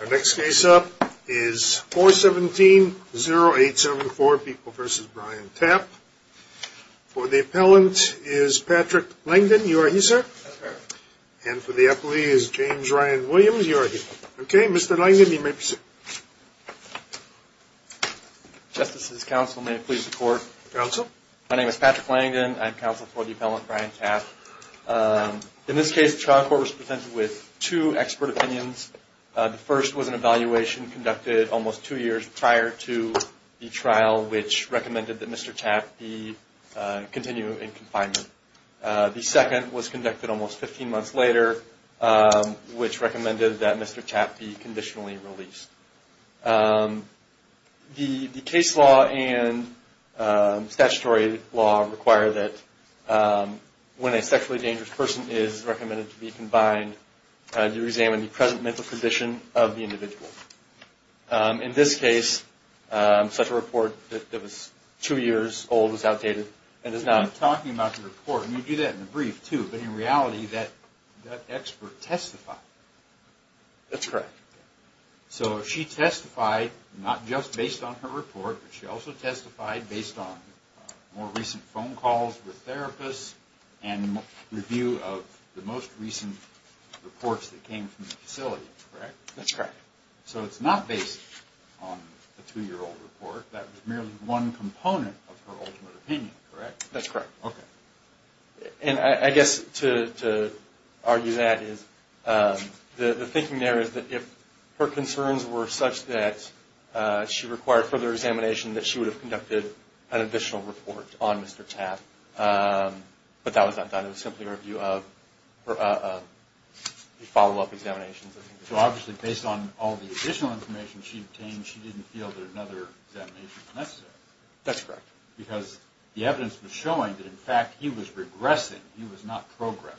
Our next case up is 417-0874, People v. Brian Tapp. For the appellant is Patrick Langdon. You are he, sir? That's correct. And for the appellee is James Ryan Williams. You are he. Okay, Mr. Langdon, you may proceed. Justices, counsel, may it please the court. Counsel. My name is Patrick Langdon. I'm counsel for the appellant, Brian Tapp. In this case, the trial court was presented with two expert opinions. The first was an evaluation conducted almost two years prior to the trial, which recommended that Mr. Tapp be continued in confinement. The second was conducted almost 15 months later, which recommended that Mr. Tapp be conditionally released. The case law and statutory law require that when a sexually dangerous person is recommended to be confined, you examine the present mental condition of the individual. In this case, such a report that was two years old was outdated. You keep talking about the report, and you do that in the brief, too, but in reality, that expert testified. That's correct. So she testified not just based on her report, but she also testified based on more recent phone calls with therapists and review of the most recent reports that came from the facility, correct? That's correct. So it's not based on a two-year-old report. That was merely one component of her ultimate opinion, correct? That's correct. And I guess to argue that is the thinking there is that if her concerns were such that she required further examination, that she would have conducted an additional report on Mr. Tapp. But that was not done. It was simply a follow-up examination. So obviously, based on all the additional information she obtained, she didn't feel that another examination was necessary. That's correct. Because the evidence was showing that, in fact, he was regressing. He was not progressing.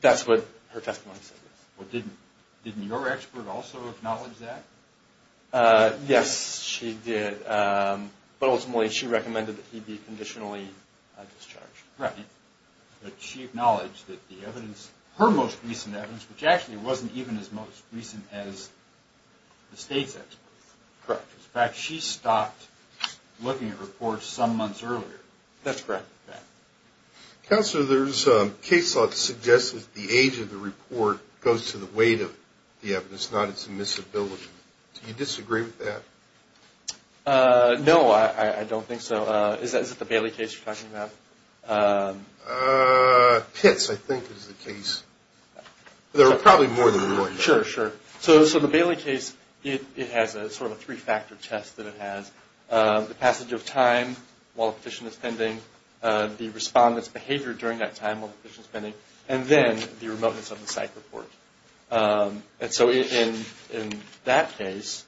That's what her testimony said. Well, didn't your expert also acknowledge that? Yes, she did. But ultimately, she recommended that he be conditionally discharged. Right. But she acknowledged that the evidence, her most recent evidence, which actually wasn't even as most recent as the state's experts. Correct. In fact, she stopped looking at reports some months earlier. That's correct. Counselor, there's case law that suggests that the age of the report goes to the weight of the evidence, not its admissibility. Do you disagree with that? No, I don't think so. Is it the Bailey case you're talking about? Pitts, I think, is the case. There are probably more than one. Sure, sure. So the Bailey case, it has sort of a three-factor test that it has. The passage of time while the petition is pending, the respondent's behavior during that time while the petition is pending, and then the remoteness of the psych report. And so in that case,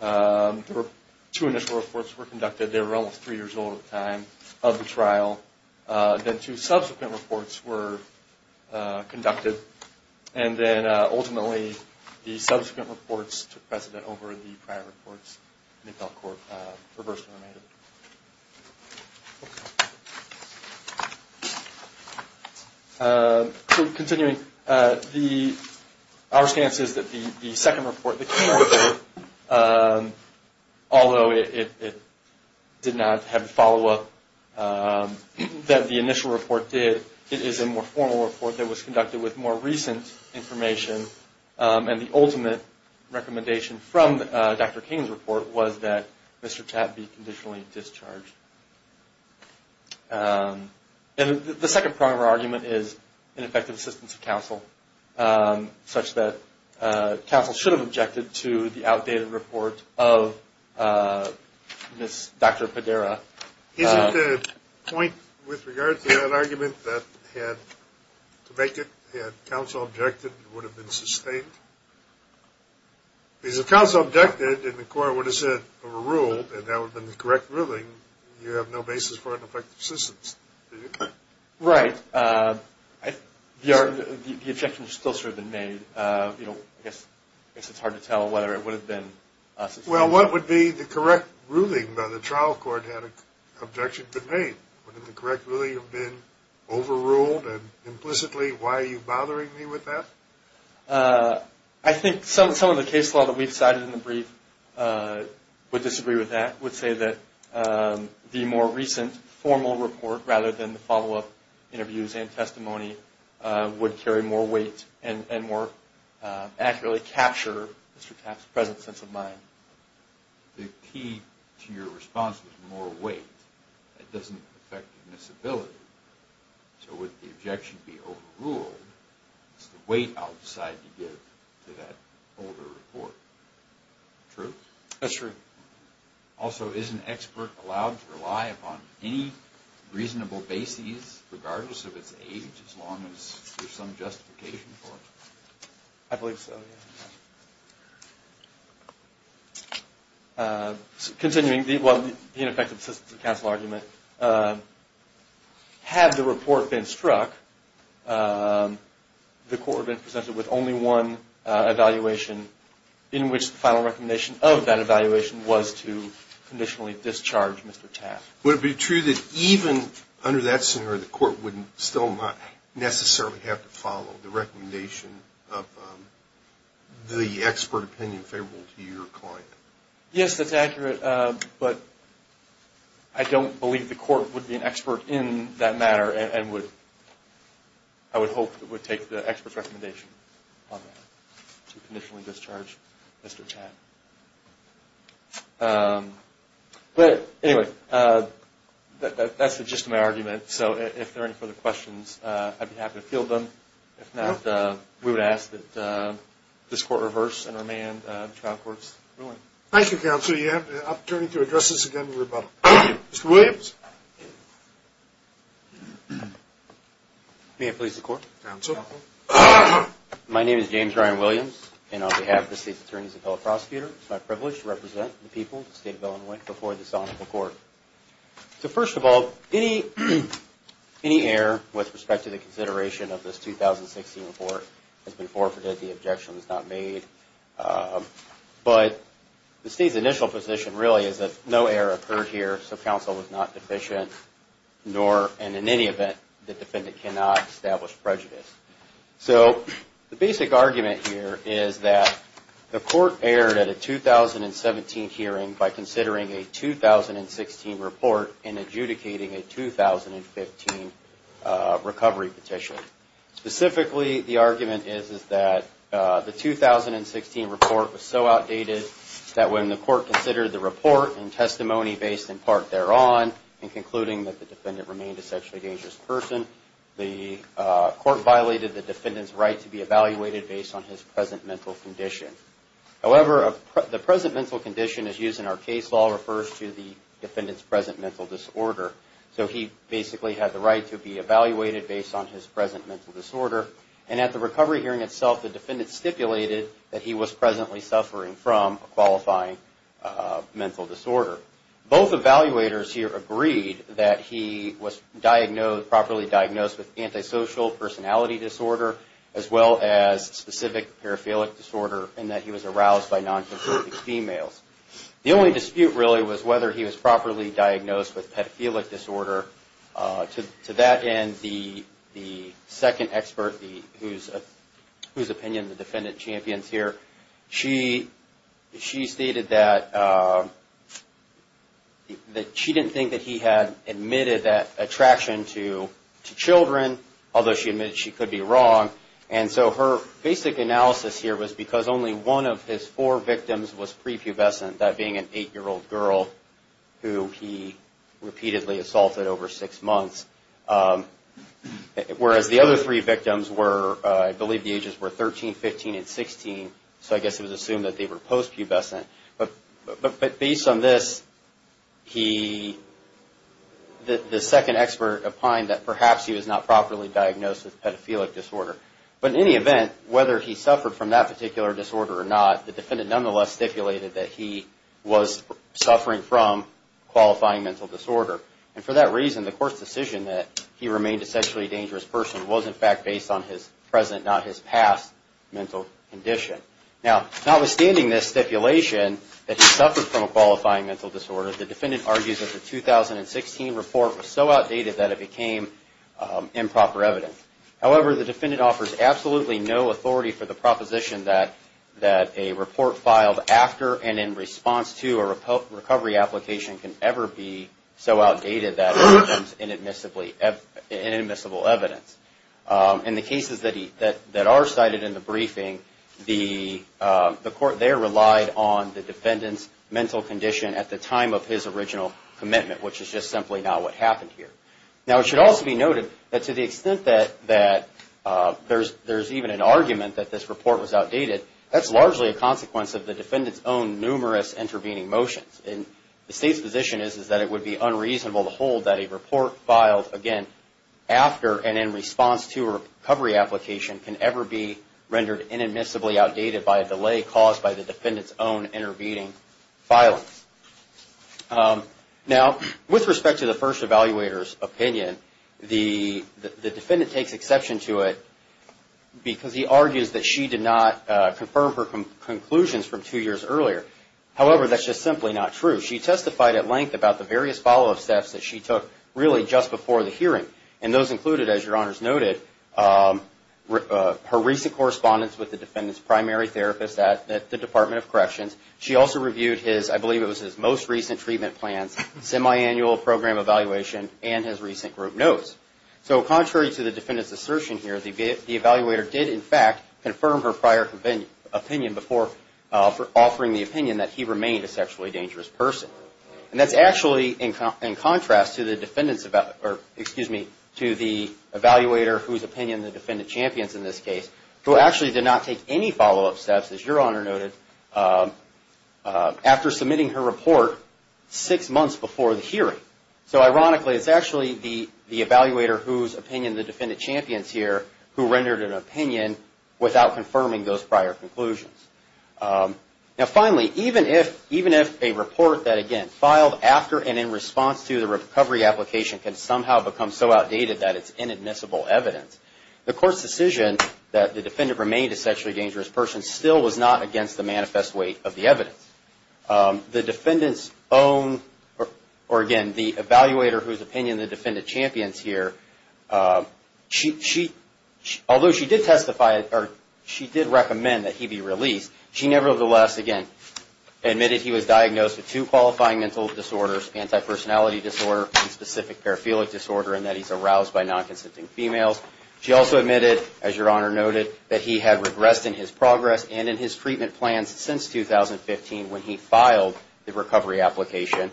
two initial reports were conducted. They were almost three years old at the time of the trial. Then two subsequent reports were conducted. And then, ultimately, the subsequent reports took precedent over the prior reports. And they fell court reversely. Continuing, our stance is that the second report that came before, although it did not have a follow-up that the initial report did, it is a more formal report that was conducted with more recent information. And the ultimate recommendation from Dr. King's report was that Mr. Tapp be conditionally discharged. And the second part of our argument is ineffective assistance of counsel, such that counsel should have objected to the outdated report of Dr. Padera. Isn't the point with regard to that argument that to make it, had counsel objected, it would have been sustained? Because if counsel objected, and the court would have said, or ruled that that would have been the correct ruling, you have no basis for ineffective assistance. Right. The objection has still sort of been made. I guess it's hard to tell whether it would have been sustained. Well, what would be the correct ruling if the trial court had an objection been made? Would the correct ruling have been overruled? And implicitly, why are you bothering me with that? I think some of the case law that we've cited in the brief would disagree with that, would say that the more recent formal report, rather than the follow-up interviews and testimony, would carry more weight and more accurately capture Mr. Tapp's present sense of mind. The key to your response was more weight. That doesn't affect the disability. So would the objection be overruled? It's the weight I'll decide to give to that older report. True? That's true. Also, is an expert allowed to rely upon any reasonable basis, regardless of its age, as long as there's some justification for it? I believe so, yes. Continuing the ineffective assistance of counsel argument, had the report been struck, the court would have been presented with only one evaluation, in which the final recommendation of that evaluation was to conditionally discharge Mr. Tapp. Would it be true that even under that scenario, the court would still not necessarily have to follow the recommendation of the expert opinion favorable to your client? Yes, that's accurate, but I don't believe the court would be an expert in that matter and I would hope it would take the expert's recommendation on that to conditionally discharge Mr. Tapp. But anyway, that's the gist of my argument. So if there are any further questions, I'd be happy to field them. If not, we would ask that this court reverse and remand the trial court's ruling. Thank you, counsel. You have the opportunity to address this again in rebuttal. Thank you. Mr. Williams. May I please record? Counsel. My name is James Ryan Williams, and on behalf of the state's attorneys and fellow prosecutors, it's my privilege to represent the people of the state of Illinois before this honorable court. So first of all, any error with respect to the consideration of this 2016 report has been forfeited. The objection was not made. But the state's initial position really is that no error occurred here, so counsel was not deficient, and in any event, the defendant cannot establish prejudice. So the basic argument here is that the court erred at a 2017 hearing by considering a 2016 report and adjudicating a 2015 recovery petition. Specifically, the argument is that the 2016 report was so outdated that when the court considered the report and testimony based in part thereon in concluding that the defendant remained a sexually dangerous person, the court violated the defendant's right to be evaluated based on his present mental condition. However, the present mental condition, as used in our case law, refers to the defendant's present mental disorder. So he basically had the right to be evaluated based on his present mental disorder, and at the recovery hearing itself, the defendant stipulated that he was presently suffering from a qualifying mental disorder. Both evaluators here agreed that he was properly diagnosed with antisocial personality disorder, as well as specific paraphilic disorder, and that he was aroused by nonconsensual females. The only dispute really was whether he was properly diagnosed with paraphilic disorder. To that end, the second expert, whose opinion the defendant champions here, she stated that she didn't think that he had admitted that attraction to children, although she admitted she could be wrong. And so her basic analysis here was because only one of his four victims was prepubescent, that being an eight-year-old girl who he repeatedly assaulted over six months, whereas the other three victims were, I believe the ages were 13, 15, and 16, so I guess it was assumed that they were postpubescent. But based on this, the second expert opined that perhaps he was not properly diagnosed with paraphilic disorder. But in any event, whether he suffered from that particular disorder or not, the defendant nonetheless stipulated that he was suffering from qualifying mental disorder. And for that reason, the court's decision that he remained a sexually dangerous person was in fact based on his present, not his past, mental condition. Now, notwithstanding this stipulation that he suffered from a qualifying mental disorder, the defendant argues that the 2016 report was so outdated that it became improper evidence. However, the defendant offers absolutely no authority for the proposition that a report filed after and in response to a recovery application can ever be so outdated that it becomes inadmissible evidence. In the cases that are cited in the briefing, the court there relied on the defendant's mental condition at the time of his original commitment, which is just simply not what happened here. Now, it should also be noted that to the extent that there's even an argument that this report was outdated, that's largely a consequence of the defendant's own numerous intervening motions. And the State's position is that it would be unreasonable to hold that a report filed, again, after and in response to a recovery application can ever be rendered inadmissibly outdated by a delay caused by the defendant's own intervening filing. Now, with respect to the first evaluator's opinion, the defendant takes exception to it because he argues that she did not confirm her conclusions from two years earlier. However, that's just simply not true. She testified at length about the various follow-up steps that she took really just before the hearing. And those included, as Your Honors noted, her recent correspondence with the defendant's primary therapist at the Department of Corrections. She also reviewed his, I believe it was his most recent treatment plans, semiannual program evaluation, and his recent group notes. So contrary to the defendant's assertion here, the evaluator did in fact confirm her prior opinion before offering the opinion that he remained a sexually dangerous person. And that's actually in contrast to the evaluator whose opinion the defendant champions in this case, who actually did not take any follow-up steps, as Your Honor noted, after submitting her report six months before the hearing. So ironically, it's actually the evaluator whose opinion the defendant champions here who rendered an opinion without confirming those prior conclusions. Now finally, even if a report that, again, filed after and in response to the recovery application can somehow become so outdated that it's inadmissible evidence, the court's decision that the defendant remained a sexually dangerous person still was not against the manifest weight of the evidence. The defendant's own, or again, the evaluator whose opinion the defendant champions here, although she did recommend that he be released, she nevertheless, again, admitted he was diagnosed with two qualifying mental disorders, anti-personality disorder and specific paraphilic disorder, and that he's aroused by non-consenting females. She also admitted, as Your Honor noted, that he had regressed in his progress and in his treatment plans since 2015 when he filed the recovery application.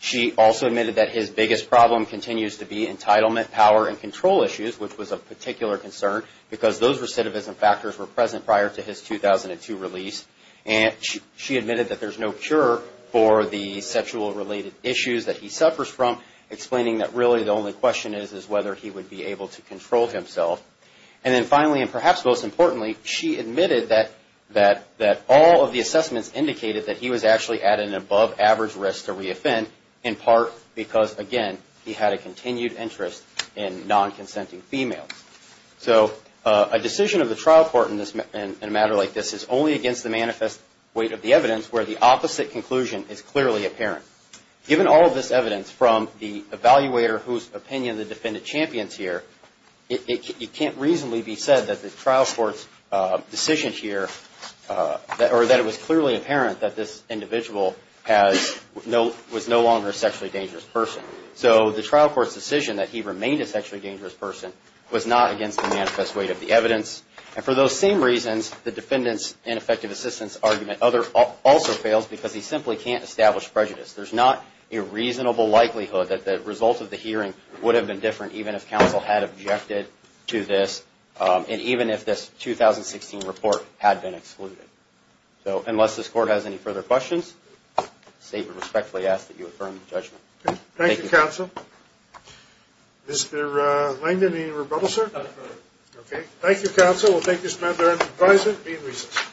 She also admitted that his biggest problem continues to be entitlement, power, and control issues, which was of particular concern because those recidivism factors were present prior to his 2002 release. And she admitted that there's no cure for the sexual-related issues that he suffers from, explaining that really the only question is whether he would be able to control himself. And then finally, and perhaps most importantly, she admitted that all of the assessments indicated that he was actually at an above-average risk to re-offend, in part because, again, he had a continued interest in non-consenting females. So a decision of the trial court in a matter like this is only against the manifest weight of the evidence where the opposite conclusion is clearly apparent. Given all of this evidence from the evaluator whose opinion the defendant champions here, it can't reasonably be said that the trial court's decision here, or that it was clearly apparent that this individual was no longer a sexually dangerous person. So the trial court's decision that he remained a sexually dangerous person was not against the manifest weight of the evidence. And for those same reasons, the defendant's ineffective assistance argument also fails because he simply can't establish prejudice. There's not a reasonable likelihood that the result of the hearing would have been different even if counsel had objected to this, and even if this 2016 report had been excluded. So unless this court has any further questions, I respectfully ask that you affirm the judgment. Thank you, counsel. Mr. Langdon, any rebuttal, sir? No further. Okay. Thank you, counsel. We'll take this matter into advisement and be in recess.